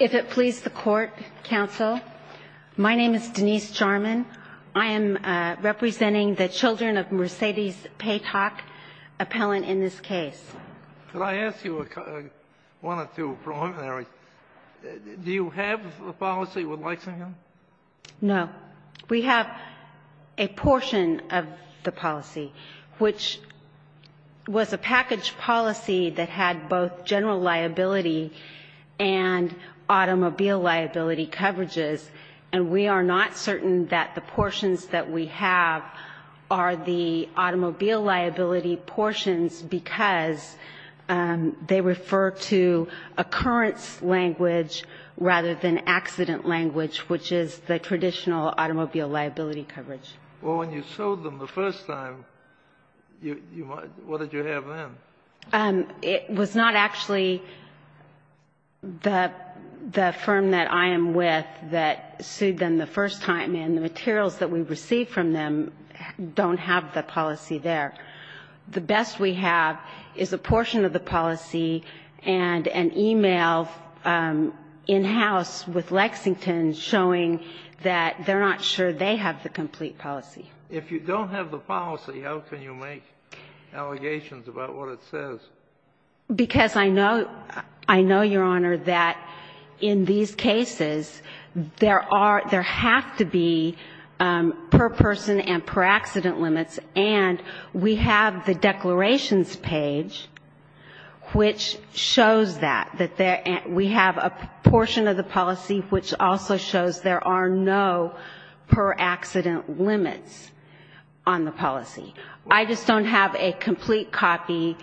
If it please the court, counsel, my name is Denise Jarman. I am representing the children of Mercedes Patoc, appellant in this case. Could I ask you one or two preliminary questions? Do you have a policy with Lexington? No. We have a portion of the policy, which was a package policy that had both general liability and automobile liability coverages, and we are not certain that the portions that we have are the automobile liability portions because they refer to occurrence language rather than accident language, which is the traditional automobile liability coverage. Well, when you sued them the first time, what did you have then? It was not actually the firm that I am with that sued them the first time, and the materials that we received from them don't have the policy there. The best we have is a portion of the policy and an e-mail in-house with Lexington showing that they're not sure they have the complete policy. If you don't have the policy, how can you make allegations about what it says? Because I know, Your Honor, that in these cases, there are – there have to be per-person and per-accident limits, and we have the declarations page, which shows that. We have a portion of the policy which also shows there are no per-accident limits on the policy. I just don't have a complete copy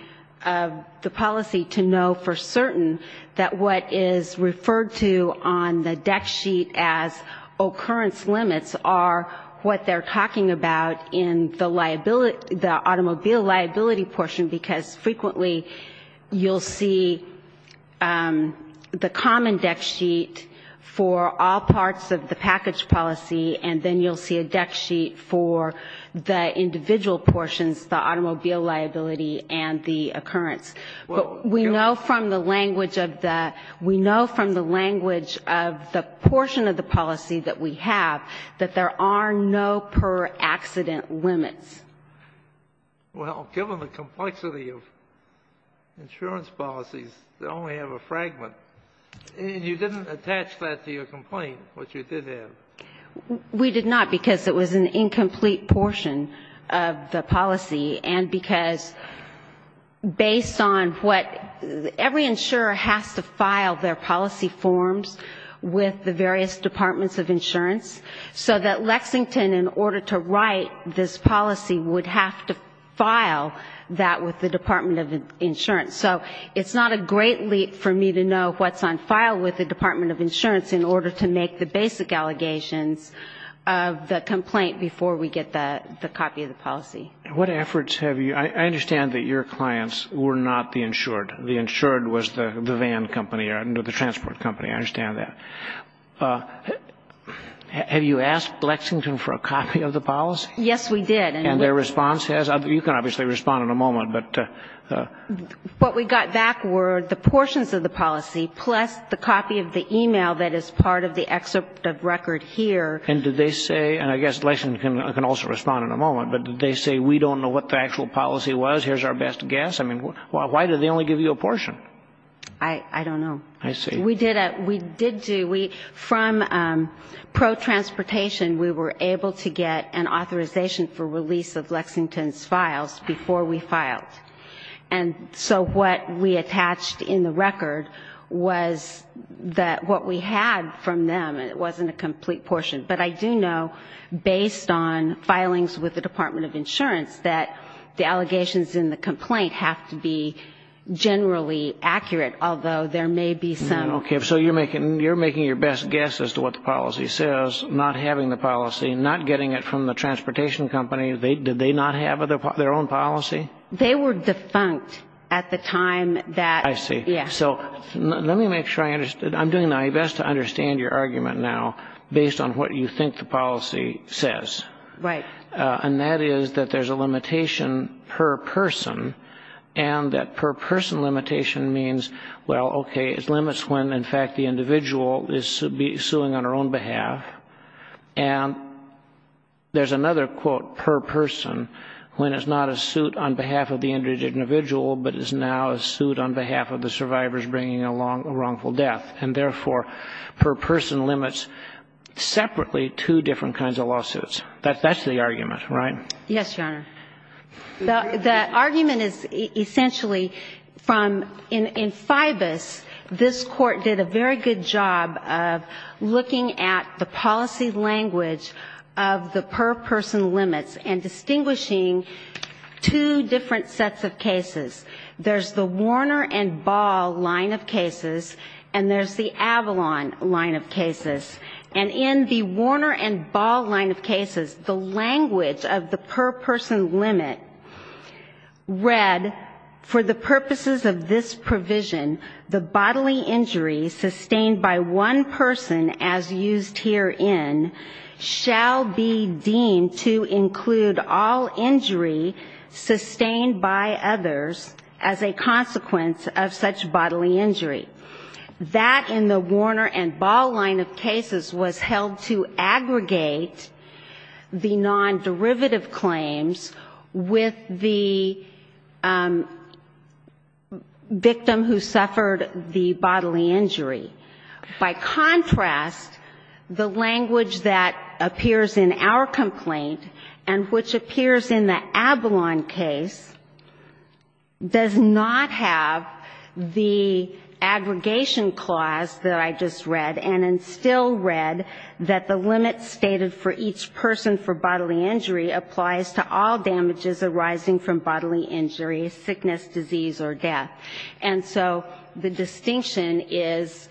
of the policy to know for certain that what is referred to on the deck sheet as occurrence limits are what they're talking about in the automobile liability portion, because frequently you'll see the common deck sheet for all parts of the package policy, and then you'll see a deck sheet for the individual portions, the automobile liability and the occurrence. But we know from the language of the – we know from the language of the portion of the policy that we have that there are no per-accident limits. Well, given the complexity of insurance policies, they only have a fragment. And you didn't attach that to your complaint, which you did have. We did not, because it was an incomplete portion of the policy, and because based on what – every insurer has to file their policy forms with the various departments of insurance, so that Lexington, in order to write this policy, would have to file that with the Department of Insurance. So it's not a great leap for me to know what's on file with the Department of Insurance in order to make the basic allegations of the complaint before we get the copy of the policy. What efforts have you – I understand that your clients were not the insured. The insured was the van company or the transport company. I understand that. Have you asked Lexington for a copy of the policy? Yes, we did. And their response has – you can obviously respond in a moment, What we got back were the portions of the policy plus the copy of the e-mail that is part of the excerpt of record here. And did they say – and I guess Lexington can also respond in a moment – but did they say, we don't know what the actual policy was, here's our best guess? I mean, why did they only give you a portion? I don't know. I see. We did do – from pro-transportation, we were able to get an authorization for release of Lexington's files before we filed. And so what we attached in the record was that what we had from them, it wasn't a complete portion. But I do know, based on filings with the Department of Insurance, that the allegations in the complaint have to be generally accurate, although there may be some – Okay. So you're making your best guess as to what the policy says, not having the policy, not getting it from the transportation company. Did they not have their own policy? They were defunct at the time that – I see. Yeah. So let me make sure I understand. I'm doing my best to understand your argument now based on what you think the policy says. Right. And that is that there's a limitation per person, and that per person limitation means, well, okay, it limits when, in fact, the individual is suing on her own behalf. And there's another quote, per person, when it's not a suit on behalf of the injured individual but is now a suit on behalf of the survivors bringing a wrongful death. And therefore, per person limits separately two different kinds of lawsuits. That's the argument, right? Yes, Your Honor. The argument is essentially from – in FIBAS, this Court did a very good job of looking at the policy language of the per person limits and distinguishing two different sets of cases. There's the Warner and Ball line of cases, and there's the Avalon line of cases. And in the Warner and Ball line of cases, the language of the per person limit read, for the purposes of this provision, the bodily injury sustained by one person as used herein shall be deemed to include all injury sustained by others as a consequence of such bodily injury. That, in the Warner and Ball line of cases, was held to aggregate the non-derivative claims with the victim who suffered the bodily injury. By contrast, the language that appears in our complaint and which appears in the Avalon case does not have the aggregation clause that I just read, and it's still read that the limit stated for each person for bodily injury applies to all damages arising from bodily injury, sickness, disease or death. And so the distinction is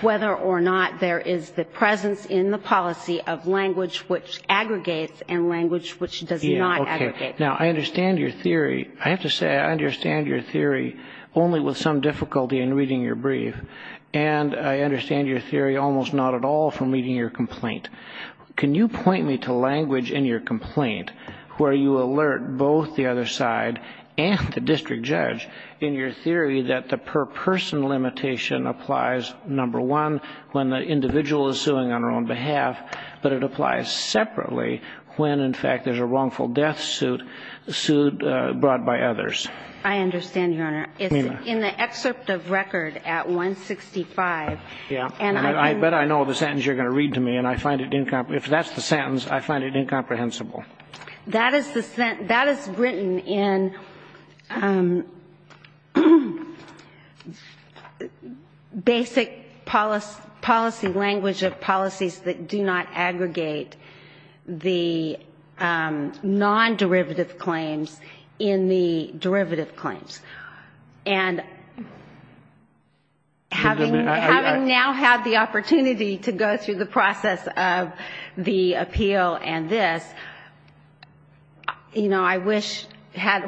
whether or not there is the presence in the policy of language which aggregates and language which does not aggregate. Now, I understand your theory. I have to say I understand your theory only with some difficulty in reading your brief, and I understand your theory almost not at all from reading your complaint. Can you point me to language in your complaint where you alert both the other side and the district judge in your theory that the per person limitation applies, number one, when the individual is suing on their own suit brought by others? I understand, Your Honor. It's in the excerpt of record at 165. I bet I know the sentence you're going to read to me, and if that's the sentence, I find it incomprehensible. That is written in basic policy language of policies that do not aggregate the non-derivative claims in the derivative claims. And having now had the opportunity to go through the process of the appeal and this, you know, I wish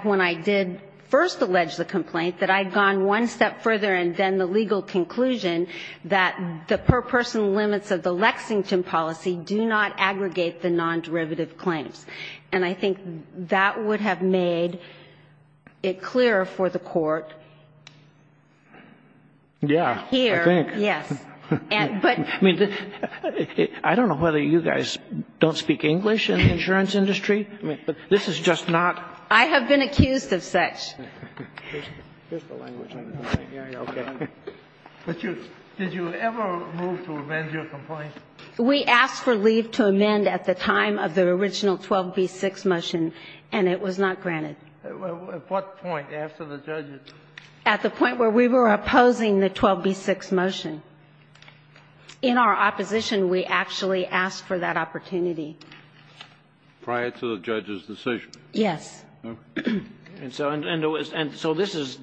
when I did first allege the complaint that I had gone one step further and then the legal conclusion that the per person limits of the Lexington policy do not aggregate the non-derivative claims. And I think that would have made it clearer for the court here. Yes. I mean, I don't know whether you guys don't speak English in the insurance industry, but this is just not. I have been accused of such. Did you ever move to amend your complaint? We asked for leave to amend at the time of the original 12b-6 motion, and it was not granted. At what point after the judge's? At the point where we were opposing the 12b-6 motion. In our opposition, we actually asked for that opportunity. Prior to the judge's decision? Yes. And so this is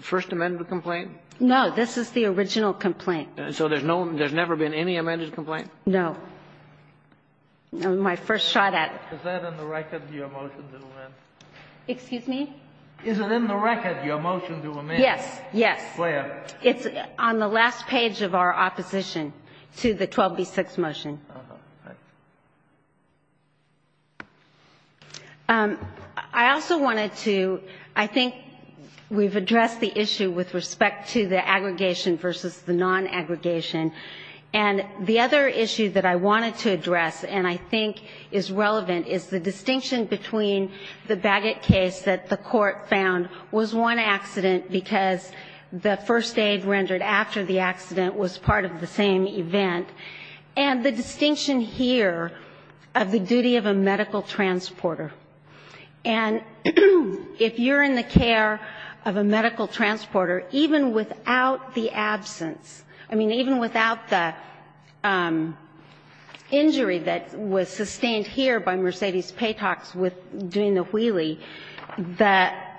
first amendment complaint? No, this is the original complaint. So there's never been any amended complaint? No. My first shot at it. Is that in the record, your motion to amend? Excuse me? Is it in the record, your motion to amend? Yes, yes. Where? It's on the last page of our opposition to the 12b-6 motion. I also wanted to, I think we've addressed the issue with respect to the aggregation versus the non-aggregation. And the other issue that I wanted to address and I think is relevant is the distinction between the Bagot case that the court found was one accident because the first aid rendered after the accident was part of the same event. And the distinction here of the duty of a medical transporter. And if you're in the care of a medical transporter, even without the absence, I mean, even without the injury that was sustained here by Mercedes Patox with doing the wheelie, that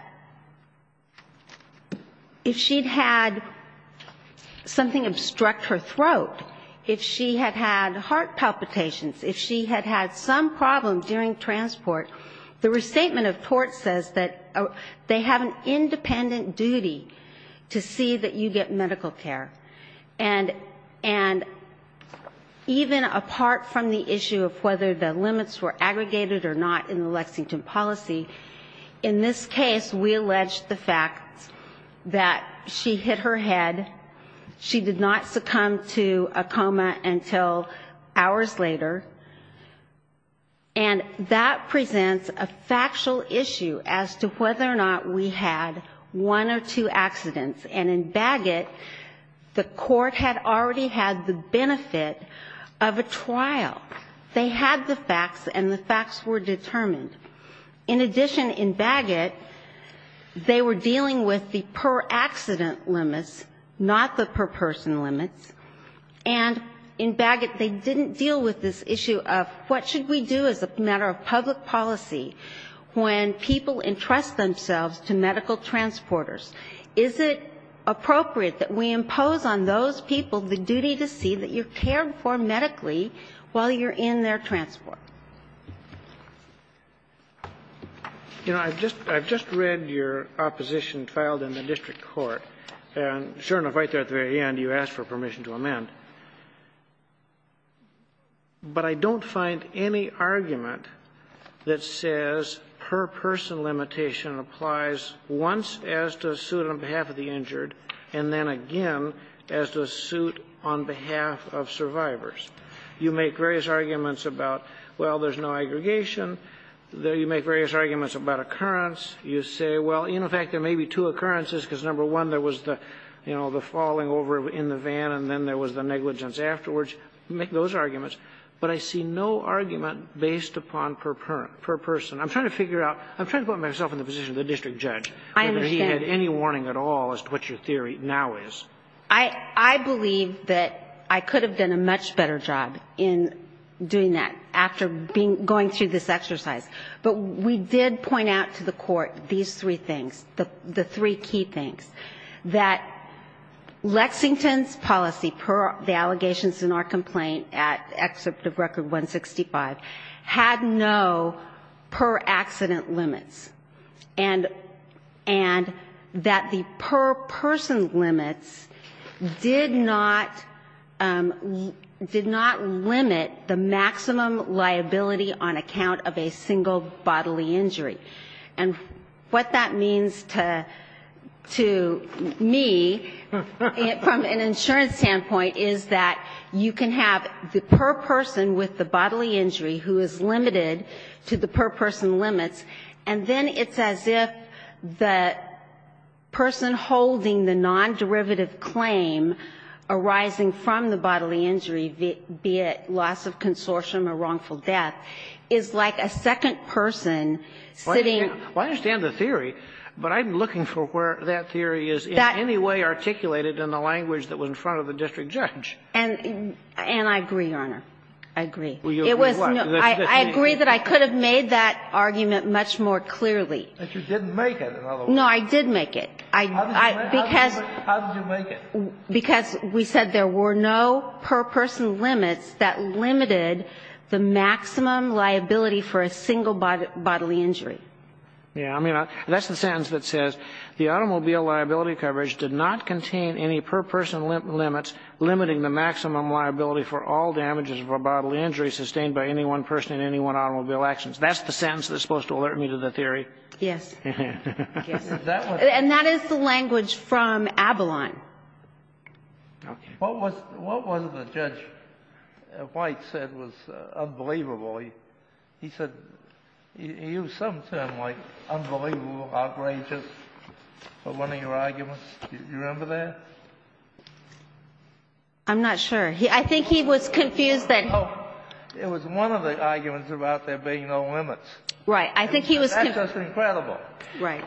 if she'd had something obstruct her throat, if she'd had heart palpitations, if she'd had some problem during transport, the restatement of tort says that they have an independent duty to see that you get medical care. And even apart from the issue of whether the limits were aggregated or not in the Lexington policy, in this case, we alleged the fact that she hit her head, she did not succumb to a coma, and she did not die. Until hours later. And that presents a factual issue as to whether or not we had one or two accidents. And in Bagot, the court had already had the benefit of a trial. They had the facts and the facts were determined. In addition, in Bagot, they were dealing with the per-accident limits, not the per-person limits. And in Bagot, they didn't deal with this issue of what should we do as a matter of public policy when people entrust themselves to medical transporters. Is it appropriate that we impose on those people the duty to see that you're cared for medically while you're in their transport? You know, I've just read your opposition filed in the district court. And sure enough, right there at the very end, you asked for permission to amend. But I don't find any argument that says per-person limitation applies once as to a suit on behalf of the injured, and then again as to a suit on behalf of survivors. You make various arguments about, well, there's no aggregation. You make various arguments about occurrence. You say, well, in fact, there may be two occurrences because, number one, there was the, you know, the falling over in the van and then there was the negligence afterwards. You make those arguments. But I see no argument based upon per-person. I'm trying to figure out. I'm trying to put myself in the position of the district judge. I understand. Whether he had any warning at all as to what your theory now is. I believe that I could have done a much better job in doing that after being going through this exercise. But we did point out to the Court these three things, the three key things, that Lexington's policy per the allegations in our complaint at Excerpt of Record 165 had no per-accident limits, and that the per-person limits did not, did not limit the maximum liability on account of a single bodily injury. And what that means to me from an insurance standpoint is that you can have the per-person with the bodily injury who is limited to the per-person limits, and then it's as if the person holding the non-derivative claim arising from the bodily injury, be it loss of consortium or wrongful death, is like a second person sitting. Well, I understand the theory, but I'm looking for where that theory is in any way articulated in the language that was in front of the district judge. And I agree, Your Honor. I agree. I agree that I could have made that argument much more clearly. But you didn't make it. No, I did make it. How did you make it? Because we said there were no per-person limits that limited the maximum liability for a single bodily injury. Yeah. I mean, that's the sentence that says the automobile liability coverage did not contain any per-person limits limiting the maximum liability for all damages of a bodily injury sustained by any one person in any one automobile actions. That's the sentence that's supposed to alert me to the theory. Yes. Yes. And that is the language from Avalon. Okay. What was the judge White said was unbelievable? He said he used some term like unbelievable, outrageous for one of your arguments. Do you remember that? I'm not sure. I think he was confused that he was confused. It was one of the arguments about there being no limits. Right. I think he was confused. That's just incredible. Right.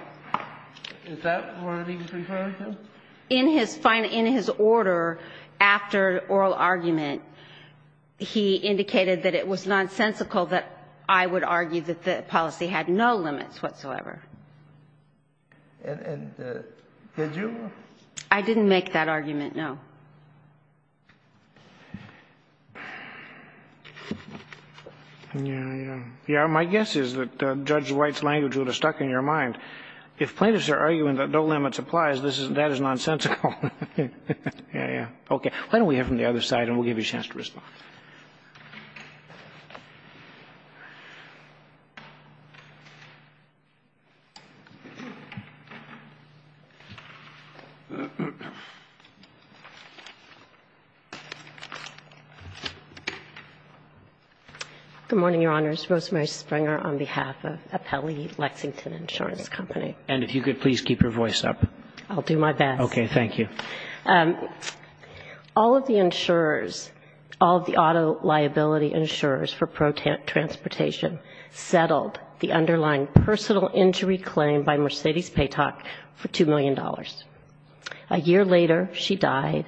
Is that what he was referring to? In his order, after oral argument, he indicated that it was nonsensical that I would argue that the policy had no limits whatsoever. And did you? I didn't make that argument, no. My guess is that Judge White's language would have stuck in your mind. If plaintiffs are arguing that no limits applies, that is nonsensical. Okay. Why don't we hear from the other side and we'll give you a chance to respond. Good morning, Your Honors. Rosemary Springer on behalf of Appellee Lexington Insurance Company. And if you could please keep your voice up. I'll do my best. Okay. Thank you. All of the auto liability insurers for transportation settled the underlying personal injury claim by Mercedes Paytac for $2 million. A year later, she died.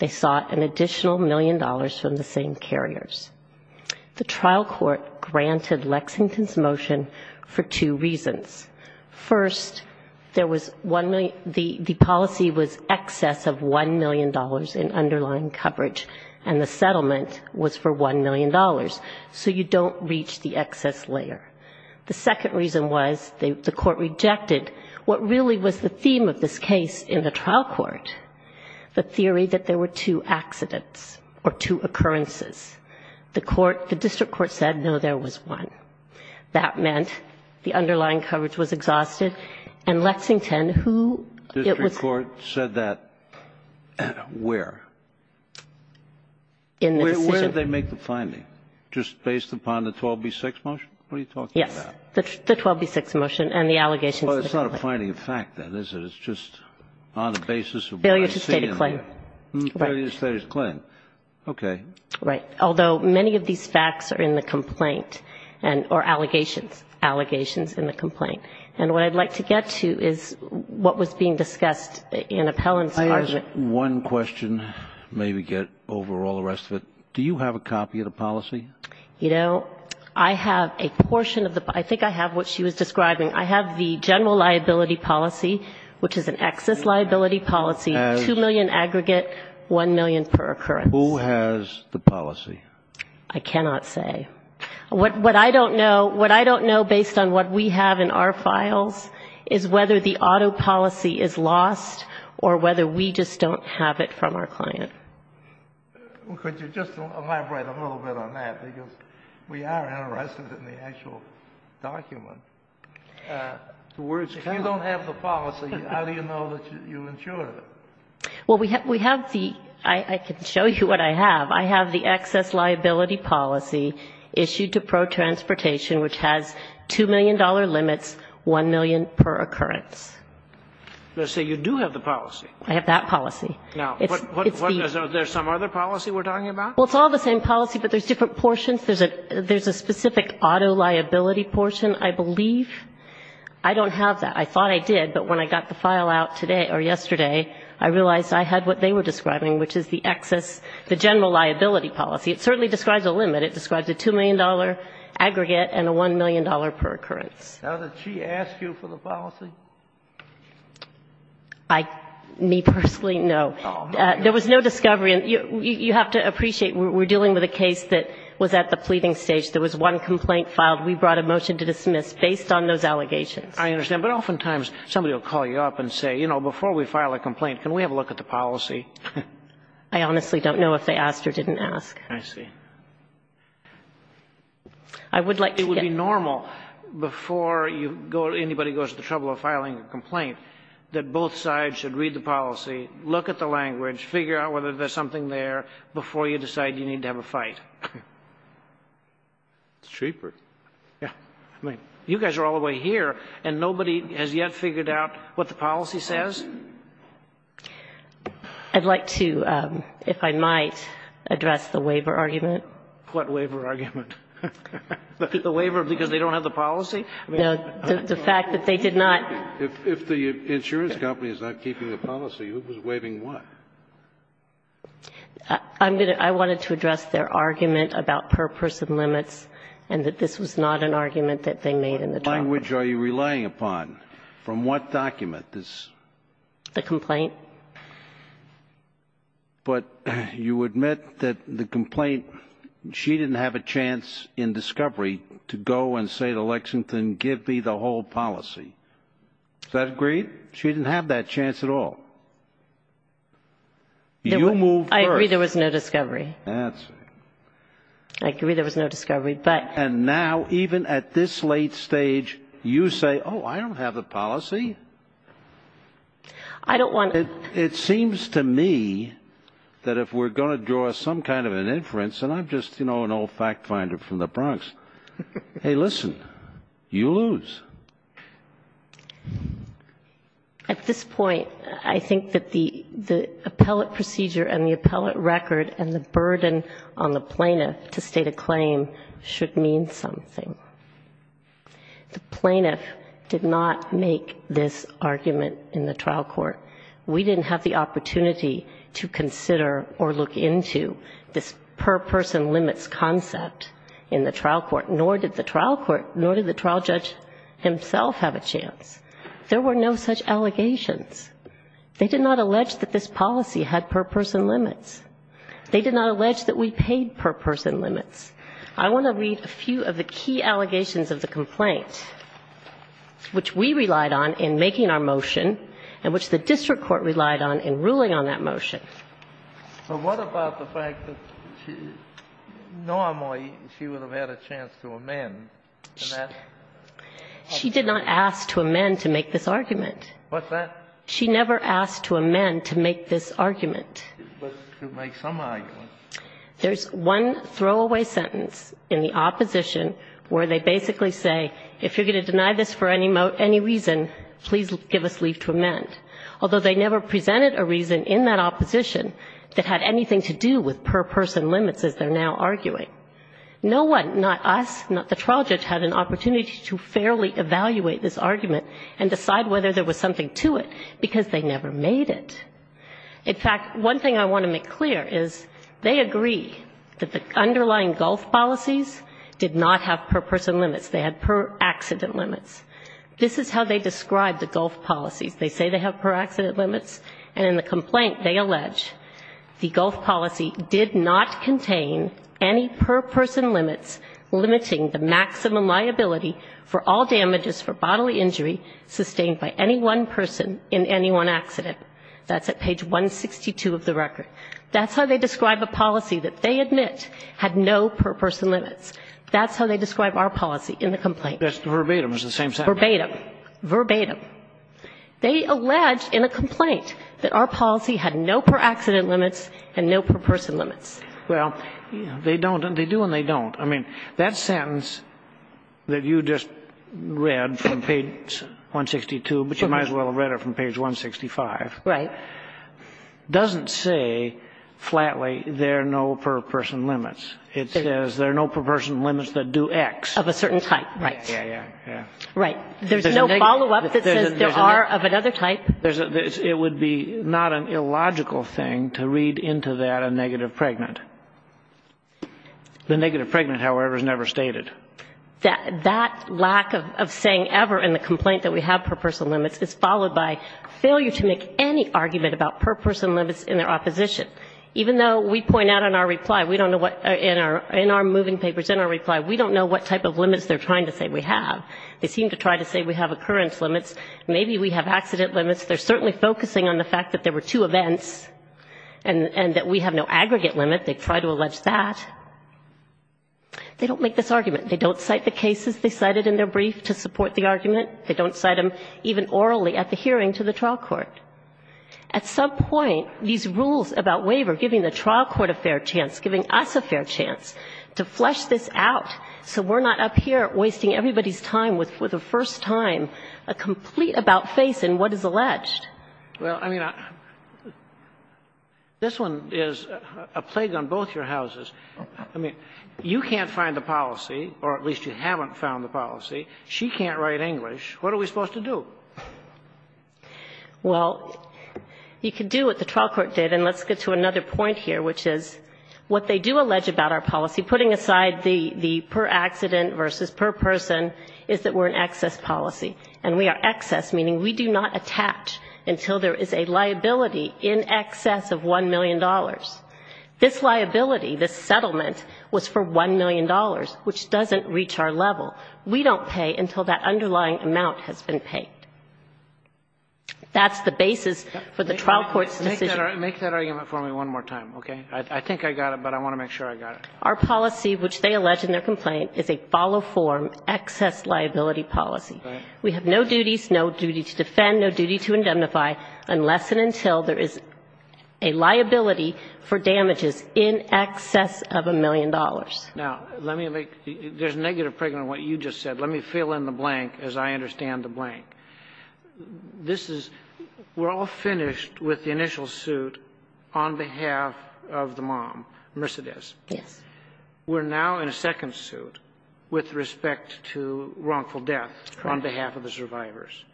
They sought an additional million dollars from the same carriers. The trial court granted Lexington's motion for two reasons. First, the policy was excess of $1 million in underlying coverage and the settlement was for $1 million. So you don't reach the excess layer. The second reason was the court rejected what really was the theme of this case in the trial court, the theory that there were two accidents or two occurrences. The district court said, no, there was one. That meant the underlying coverage was exhausted. And Lexington, who it was. The district court said that where? In the decision. Where did they make the finding? Just based upon the 12B6 motion? What are you talking about? Yes, the 12B6 motion and the allegations. Well, it's not a finding of fact, then, is it? It's just on the basis of what I'm seeing. Failure to state a claim. Failure to state a claim. Okay. Right. Although many of these facts are in the complaint or allegations. Allegations in the complaint. And what I'd like to get to is what was being discussed in Appellant's argument. I have one question, maybe get over all the rest of it. Do you have a copy of the policy? You know, I have a portion of the policy. I think I have what she was describing. I have the general liability policy, which is an excess liability policy, $2 million aggregate, $1 million per occurrence. Who has the policy? I cannot say. What I don't know, what I don't know based on what we have in our files is whether the auto policy is lost or whether we just don't have it from our client. Could you just elaborate a little bit on that? Because we are interested in the actual document. If you don't have the policy, how do you know that you insured it? Well, we have the, I can show you what I have. I have the excess liability policy issued to Pro Transportation, which has $2 million limits, $1 million per occurrence. Let's say you do have the policy. I have that policy. Now, is there some other policy we're talking about? Well, it's all the same policy, but there's different portions. There's a specific auto liability portion, I believe. I don't have that. I thought I did, but when I got the file out today or yesterday, I realized I had what they were describing, which is the excess, the general liability policy. It certainly describes a limit. It describes a $2 million aggregate and a $1 million per occurrence. Now, did she ask you for the policy? I, me personally, no. There was no discovery. You have to appreciate we're dealing with a case that was at the pleading stage. There was one complaint filed. We brought a motion to dismiss based on those allegations. I understand. But oftentimes, somebody will call you up and say, you know, before we file a complaint, can we have a look at the policy? I honestly don't know if they asked or didn't ask. I see. I would like to get. It would be normal before anybody goes to the trouble of filing a complaint that both sides should read the policy, look at the language, figure out whether there's something there before you decide you need to have a fight. It's cheaper. Yeah. I mean, you guys are all the way here, and nobody has yet figured out what the policy says? I'd like to, if I might, address the waiver argument. What waiver argument? The waiver because they don't have the policy? No, the fact that they did not. If the insurance company is not keeping the policy, who was waiving what? I'm going to – I wanted to address their argument about per-person limits and that this was not an argument that they made in the trial. What language are you relying upon? From what document? The complaint. But you admit that the complaint, she didn't have a chance in discovery to go and say to Lexington, give me the whole policy. Does that agree? She didn't have that chance at all. I agree there was no discovery. I agree there was no discovery. And now, even at this late stage, you say, oh, I don't have the policy? I don't want – It seems to me that if we're going to draw some kind of an inference, and I'm just, you know, an old fact finder from the Bronx, hey, listen, you lose. At this point, I think that the appellate procedure and the appellate record and the plaintiff should mean something. The plaintiff did not make this argument in the trial court. We didn't have the opportunity to consider or look into this per-person limits concept in the trial court, nor did the trial court, nor did the trial judge himself have a chance. There were no such allegations. They did not allege that this policy had per-person limits. They did not allege that we paid per-person limits. I want to read a few of the key allegations of the complaint, which we relied on in making our motion and which the district court relied on in ruling on that motion. So what about the fact that Norma, she would have had a chance to amend? She did not ask to amend to make this argument. What's that? She never asked to amend to make this argument. But to make some argument. There's one throwaway sentence in the opposition where they basically say, if you're going to deny this for any reason, please give us leave to amend. Although they never presented a reason in that opposition that had anything to do with per-person limits as they're now arguing. No one, not us, not the trial judge, had an opportunity to fairly evaluate this argument and decide whether there was something to it because they never made it. In fact, one thing I want to make clear is they agree that the underlying gulf policies did not have per-person limits. They had per-accident limits. This is how they describe the gulf policies. They say they have per-accident limits. And in the complaint they allege the gulf policy did not contain any per-person limits limiting the maximum liability for all damages for bodily injury sustained by any one person in any one accident. That's at page 162 of the record. That's how they describe a policy that they admit had no per-person limits. That's how they describe our policy in the complaint. That's verbatim. It's the same sentence. Verbatim. Verbatim. They allege in a complaint that our policy had no per-accident limits and no per-person limits. Well, they don't. They do and they don't. I mean, that sentence that you just read from page 162, but you might as well have read it from page 165, doesn't say flatly there are no per-person limits. It says there are no per-person limits that do X. Of a certain type, right. Right. There's no follow-up that says there are of another type. It would be not an illogical thing to read into that a negative pregnant. The negative pregnant, however, is never stated. That lack of saying ever in the complaint that we have per-person limits is followed by failure to make any argument about per-person limits in their opposition. Even though we point out in our reply, we don't know what, in our moving papers, in our reply, we don't know what type of limits they're trying to say we have. They seem to try to say we have occurrence limits. Maybe we have accident limits. They're certainly focusing on the fact that there were two events and that we have no aggregate limit. They try to allege that. They don't make this argument. They don't cite the cases they cited in their brief to support the argument. They don't cite them even orally at the hearing to the trial court. At some point, these rules about waiver giving the trial court a fair chance, giving us a fair chance to flesh this out so we're not up here wasting everybody's time with, for the first time, a complete about-face in what is alleged. Well, I mean, this one is a plague on both your houses. I mean, you can't find the policy, or at least you haven't found the policy. She can't write English. What are we supposed to do? Well, you can do what the trial court did. And let's get to another point here, which is what they do allege about our policy, putting aside the per-accident versus per-person, is that we're an excess policy. And we are excess, meaning we do not attach until there is a liability in excess of $1 million. This liability, this settlement, was for $1 million, which doesn't reach our level. We don't pay until that underlying amount has been paid. That's the basis for the trial court's decision. Make that argument for me one more time, okay? I think I got it, but I want to make sure I got it. Our policy, which they allege in their complaint, is a follow-form excess liability policy. We have no duties, no duty to defend, no duty to indemnify, unless and until there is a liability for damages in excess of $1 million. Now, let me make the --" there's negative pregnancy in what you just said. Let me fill in the blank, as I understand the blank. This is --" we're all finished with the initial suit on behalf of the mom, Mercedez. Yes. We're now in a second suit with respect to wrongful death. On behalf of the survivors.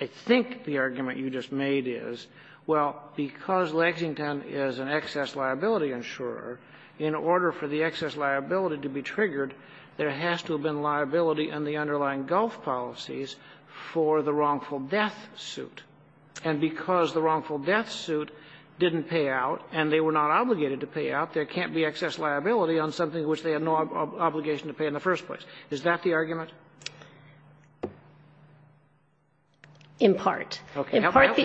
I think the argument you just made is, well, because Lexington is an excess liability insurer, in order for the excess liability to be triggered, there has to have been liability in the underlying gulf policies for the wrongful death suit. And because the wrongful death suit didn't pay out, and they were not obligated to pay out, there can't be excess liability on something which they had no obligation to pay in the first place. Is that the argument? In part. In part, the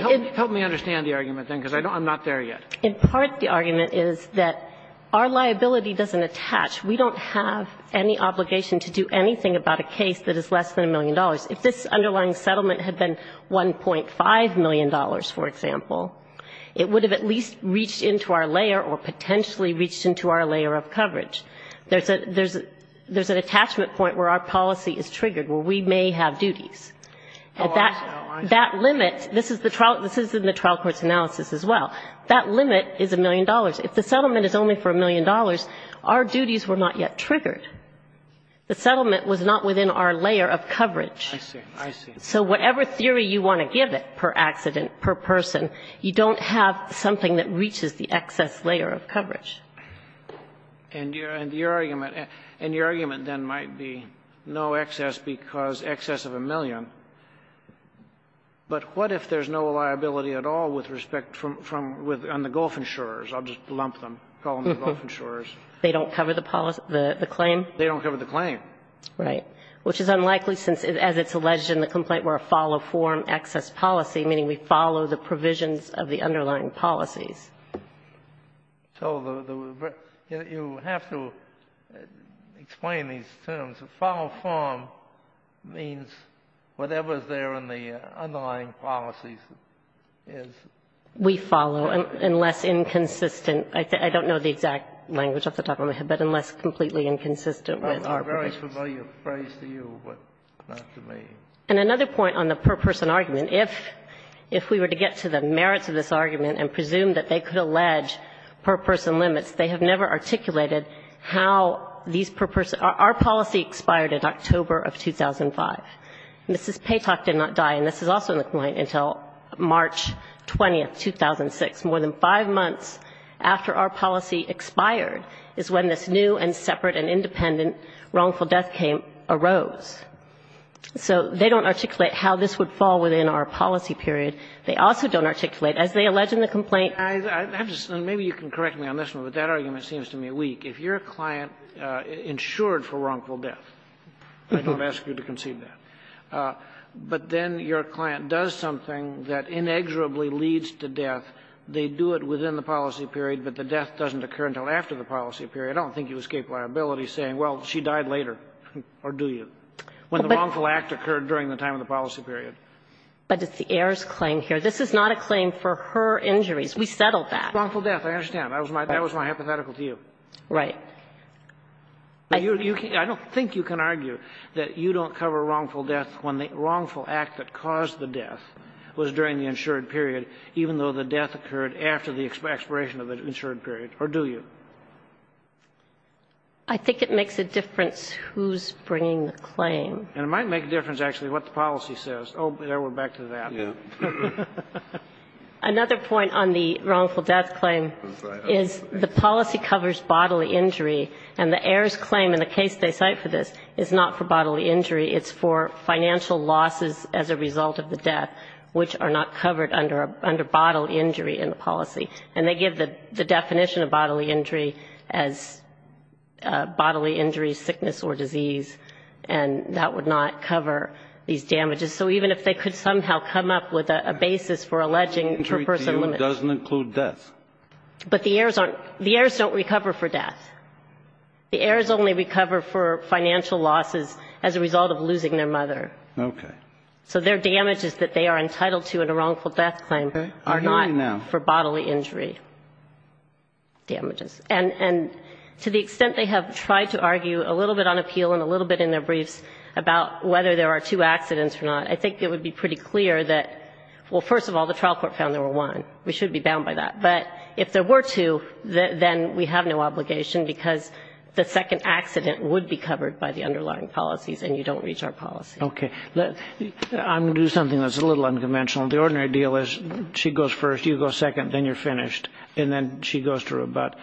argument is that our liability doesn't attach. We don't have any obligation to do anything about a case that is less than $1 million. If this underlying settlement had been $1.5 million, for example, it would have at least reached into our layer or potentially reached into our layer of coverage. There's an attachment point where our policy is triggered, where we may have duties. That limit, this is in the trial court's analysis as well, that limit is $1 million. If the settlement is only for $1 million, our duties were not yet triggered. The settlement was not within our layer of coverage. I see. I see. So whatever theory you want to give it per accident, per person, you don't have something that reaches the excess layer of coverage. And your argument then might be no excess because excess of $1 million. But what if there's no liability at all with respect from the Gulf insurers? I'll just lump them, call them the Gulf insurers. They don't cover the claim? They don't cover the claim. Right. Which is unlikely since, as it's alleged in the complaint, we're a follow-form excess policy, meaning we follow the provisions of the underlying policies. So you have to explain these terms. Follow-form means whatever is there in the underlying policies is. We follow, unless inconsistent. I don't know the exact language off the top of my head, but unless completely inconsistent with our provisions. A very familiar phrase to you, but not to me. And another point on the per-person argument, if we were to get to the merits of this complaint, they could allege per-person limits. They have never articulated how these per-person, our policy expired in October of 2005. Mrs. Paytok did not die, and this is also in the complaint, until March 20th, 2006. More than five months after our policy expired is when this new and separate and independent wrongful death came, arose. So they don't articulate how this would fall within our policy period. I have to say, maybe you can correct me on this one, but that argument seems to me weak. If your client insured for wrongful death, I don't ask you to concede that, but then your client does something that inexorably leads to death, they do it within the policy period, but the death doesn't occur until after the policy period, I don't think you escape liability saying, well, she died later, or do you, when the wrongful act occurred during the time of the policy period. But it's the heirs' claim here. This is not a claim for her injuries. We settled that. Kagan. Wrongful death, I understand. That was my hypothetical view. Right. I don't think you can argue that you don't cover wrongful death when the wrongful act that caused the death was during the insured period, even though the death occurred after the expiration of the insured period, or do you? I think it makes a difference who's bringing the claim. And it might make a difference, actually, what the policy says. Oh, there, we're back to that. Yeah. Another point on the wrongful death claim is the policy covers bodily injury, and the heirs' claim in the case they cite for this is not for bodily injury. It's for financial losses as a result of the death, which are not covered under bodily injury in the policy. And they give the definition of bodily injury as bodily injury, sickness, or disease, and that would not cover these damages. So even if they could somehow come up with a basis for alleging per person Injury to you doesn't include death. But the heirs don't recover for death. The heirs only recover for financial losses as a result of losing their mother. Okay. So their damages that they are entitled to in a wrongful death claim are not for bodily injury damages. I think it would be pretty clear that, well, first of all, the trial court found there were one. We should be bound by that. But if there were two, then we have no obligation, because the second accident would be covered by the underlying policies, and you don't reach our policy. Okay. I'm going to do something that's a little unconventional. The ordinary deal is she goes first, you go second, then you're finished, and then she goes to rebut.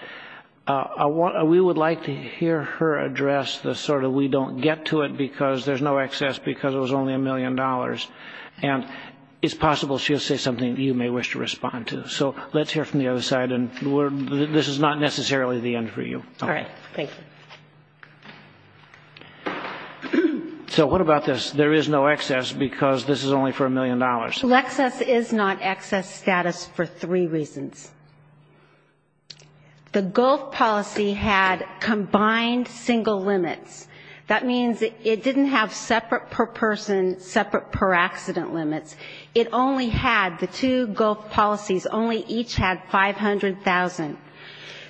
We would like to hear her address the sort of we don't give a damn thing. We get to it because there's no excess, because it was only a million dollars. And it's possible she'll say something you may wish to respond to. So let's hear from the other side, and this is not necessarily the end for you. All right. Thank you. So what about this? There is no excess because this is only for a million dollars. Well, excess is not excess status for three reasons. The Gulf policy had combined single limits. That means it didn't have separate per person, separate per accident limits. It only had, the two Gulf policies only each had 500,000.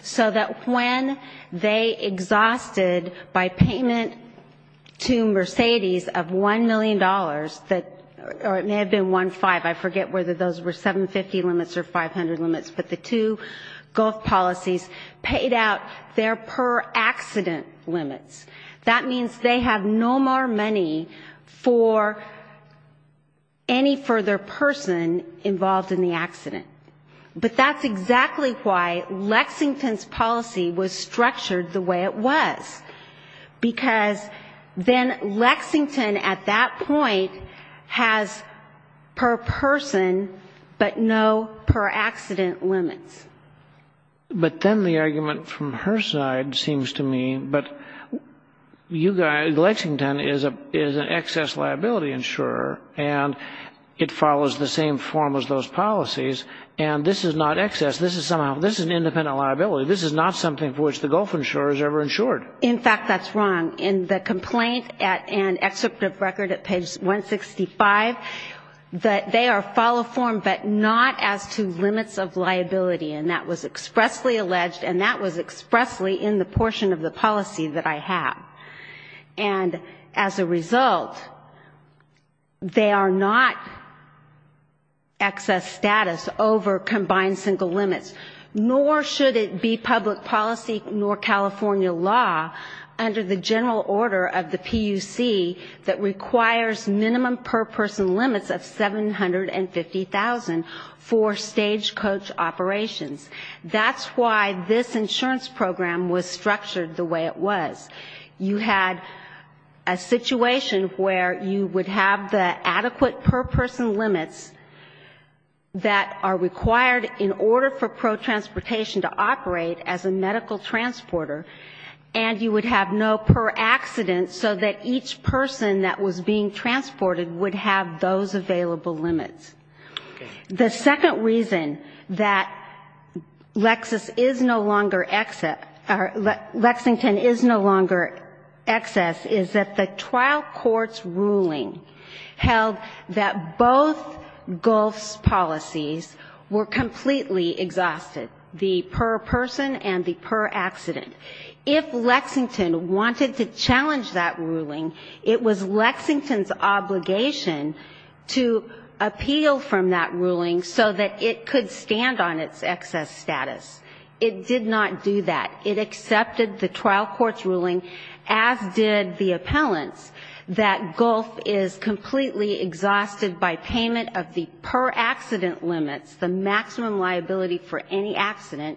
So that when they exhausted by payment to Mercedes of $1 million, or it may have been 1.5, I forget whether those were 750 limits or 500 limits, but the two Gulf policies paid out their per accident limits. That means they have no more money for any further person involved in the accident. But that's exactly why Lexington's policy was structured the way it was, because then Lexington at that point has per person but no per accident limits. But then the argument from her side seems to me, but Lexington is an excess liability insurer, and it follows the same form as those policies, and this is not excess. This is somehow, this is an independent liability. This is not something for which the Gulf insurer is ever insured. In fact, that's wrong. In the complaint and excerpt of record at page 165, that they are follow form but not as to limits of liability, and that was expressly alleged, and that was expressly in the portion of the policy that I have. And as a result, they are not excess status over combined single limits, nor should it be public policy nor California law under the general order of the PUC that requires minimum per person limits of 750,000 for stagecoach operations. That's why this insurance program was structured the way it was. You had a situation where you would have the adequate per person limits that are required in order for personal protransportation to operate as a medical transporter, and you would have no per accident so that each person that was being transported would have those available limits. The second reason that Lexington is no longer excess is that the trial court's ruling held that both Gulf's policies were completely exhausted, the per person and the per accident. If Lexington wanted to challenge that ruling, it was Lexington's obligation to appeal from that ruling so that it could stand on its excess status. It did not do that. It accepted the trial court's ruling, as did the appellant's, that Gulf is completely exhausted by payment of the per accident limits, the maximum liability for any accident,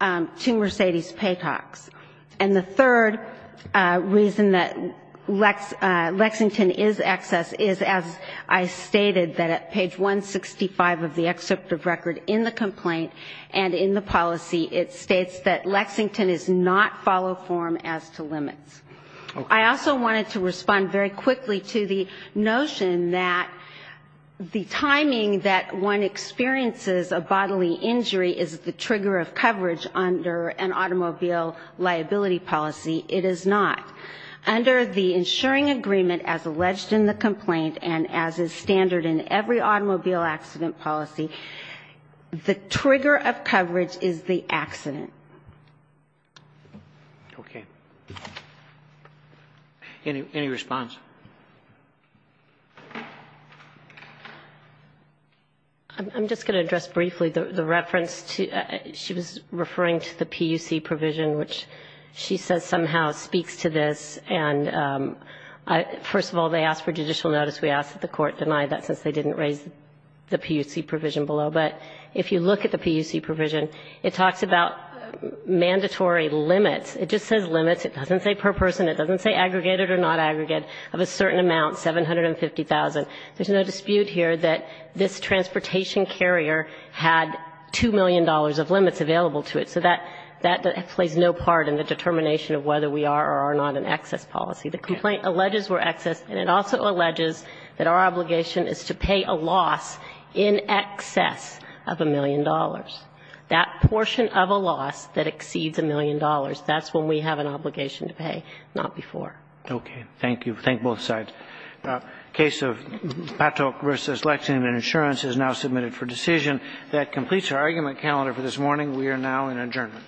to Mercedes Paycox. And the third reason that Lexington is excess is, as I stated, that at page 165 of the excerpt of record in the complaint, Lexington is not follow form as to limits. I also wanted to respond very quickly to the notion that the timing that one experiences a bodily injury is the trigger of coverage under an automobile liability policy. It is not. Under the insuring agreement as alleged in the complaint and as is standard in every automobile accident policy, the time that one experiences a bodily injury is the trigger. Okay. Any response? I'm just going to address briefly the reference. She was referring to the PUC provision, which she says somehow speaks to this. And first of all, they asked for judicial notice. We asked that the court deny that since they didn't raise the PUC provision below. But if you look at the PUC provision, it talks about mandatory limits. It just says limits. It doesn't say per person. It doesn't say aggregated or not aggregated. Of a certain amount, $750,000, there's no dispute here that this transportation carrier had $2 million of limits available to it. So that plays no part in the determination of whether we are or are not an excess policy. The complaint alleges we're excess, and it also alleges that our obligation is to pay a loss in excess of $1 million. That portion of a loss that exceeds $1 million, that's when we have an obligation to pay, not before. Okay. Thank you. Thank both sides. The case of Patok v. Lexington Insurance is now submitted for decision. That completes our argument calendar for this morning. We are now in adjournment. Thank you.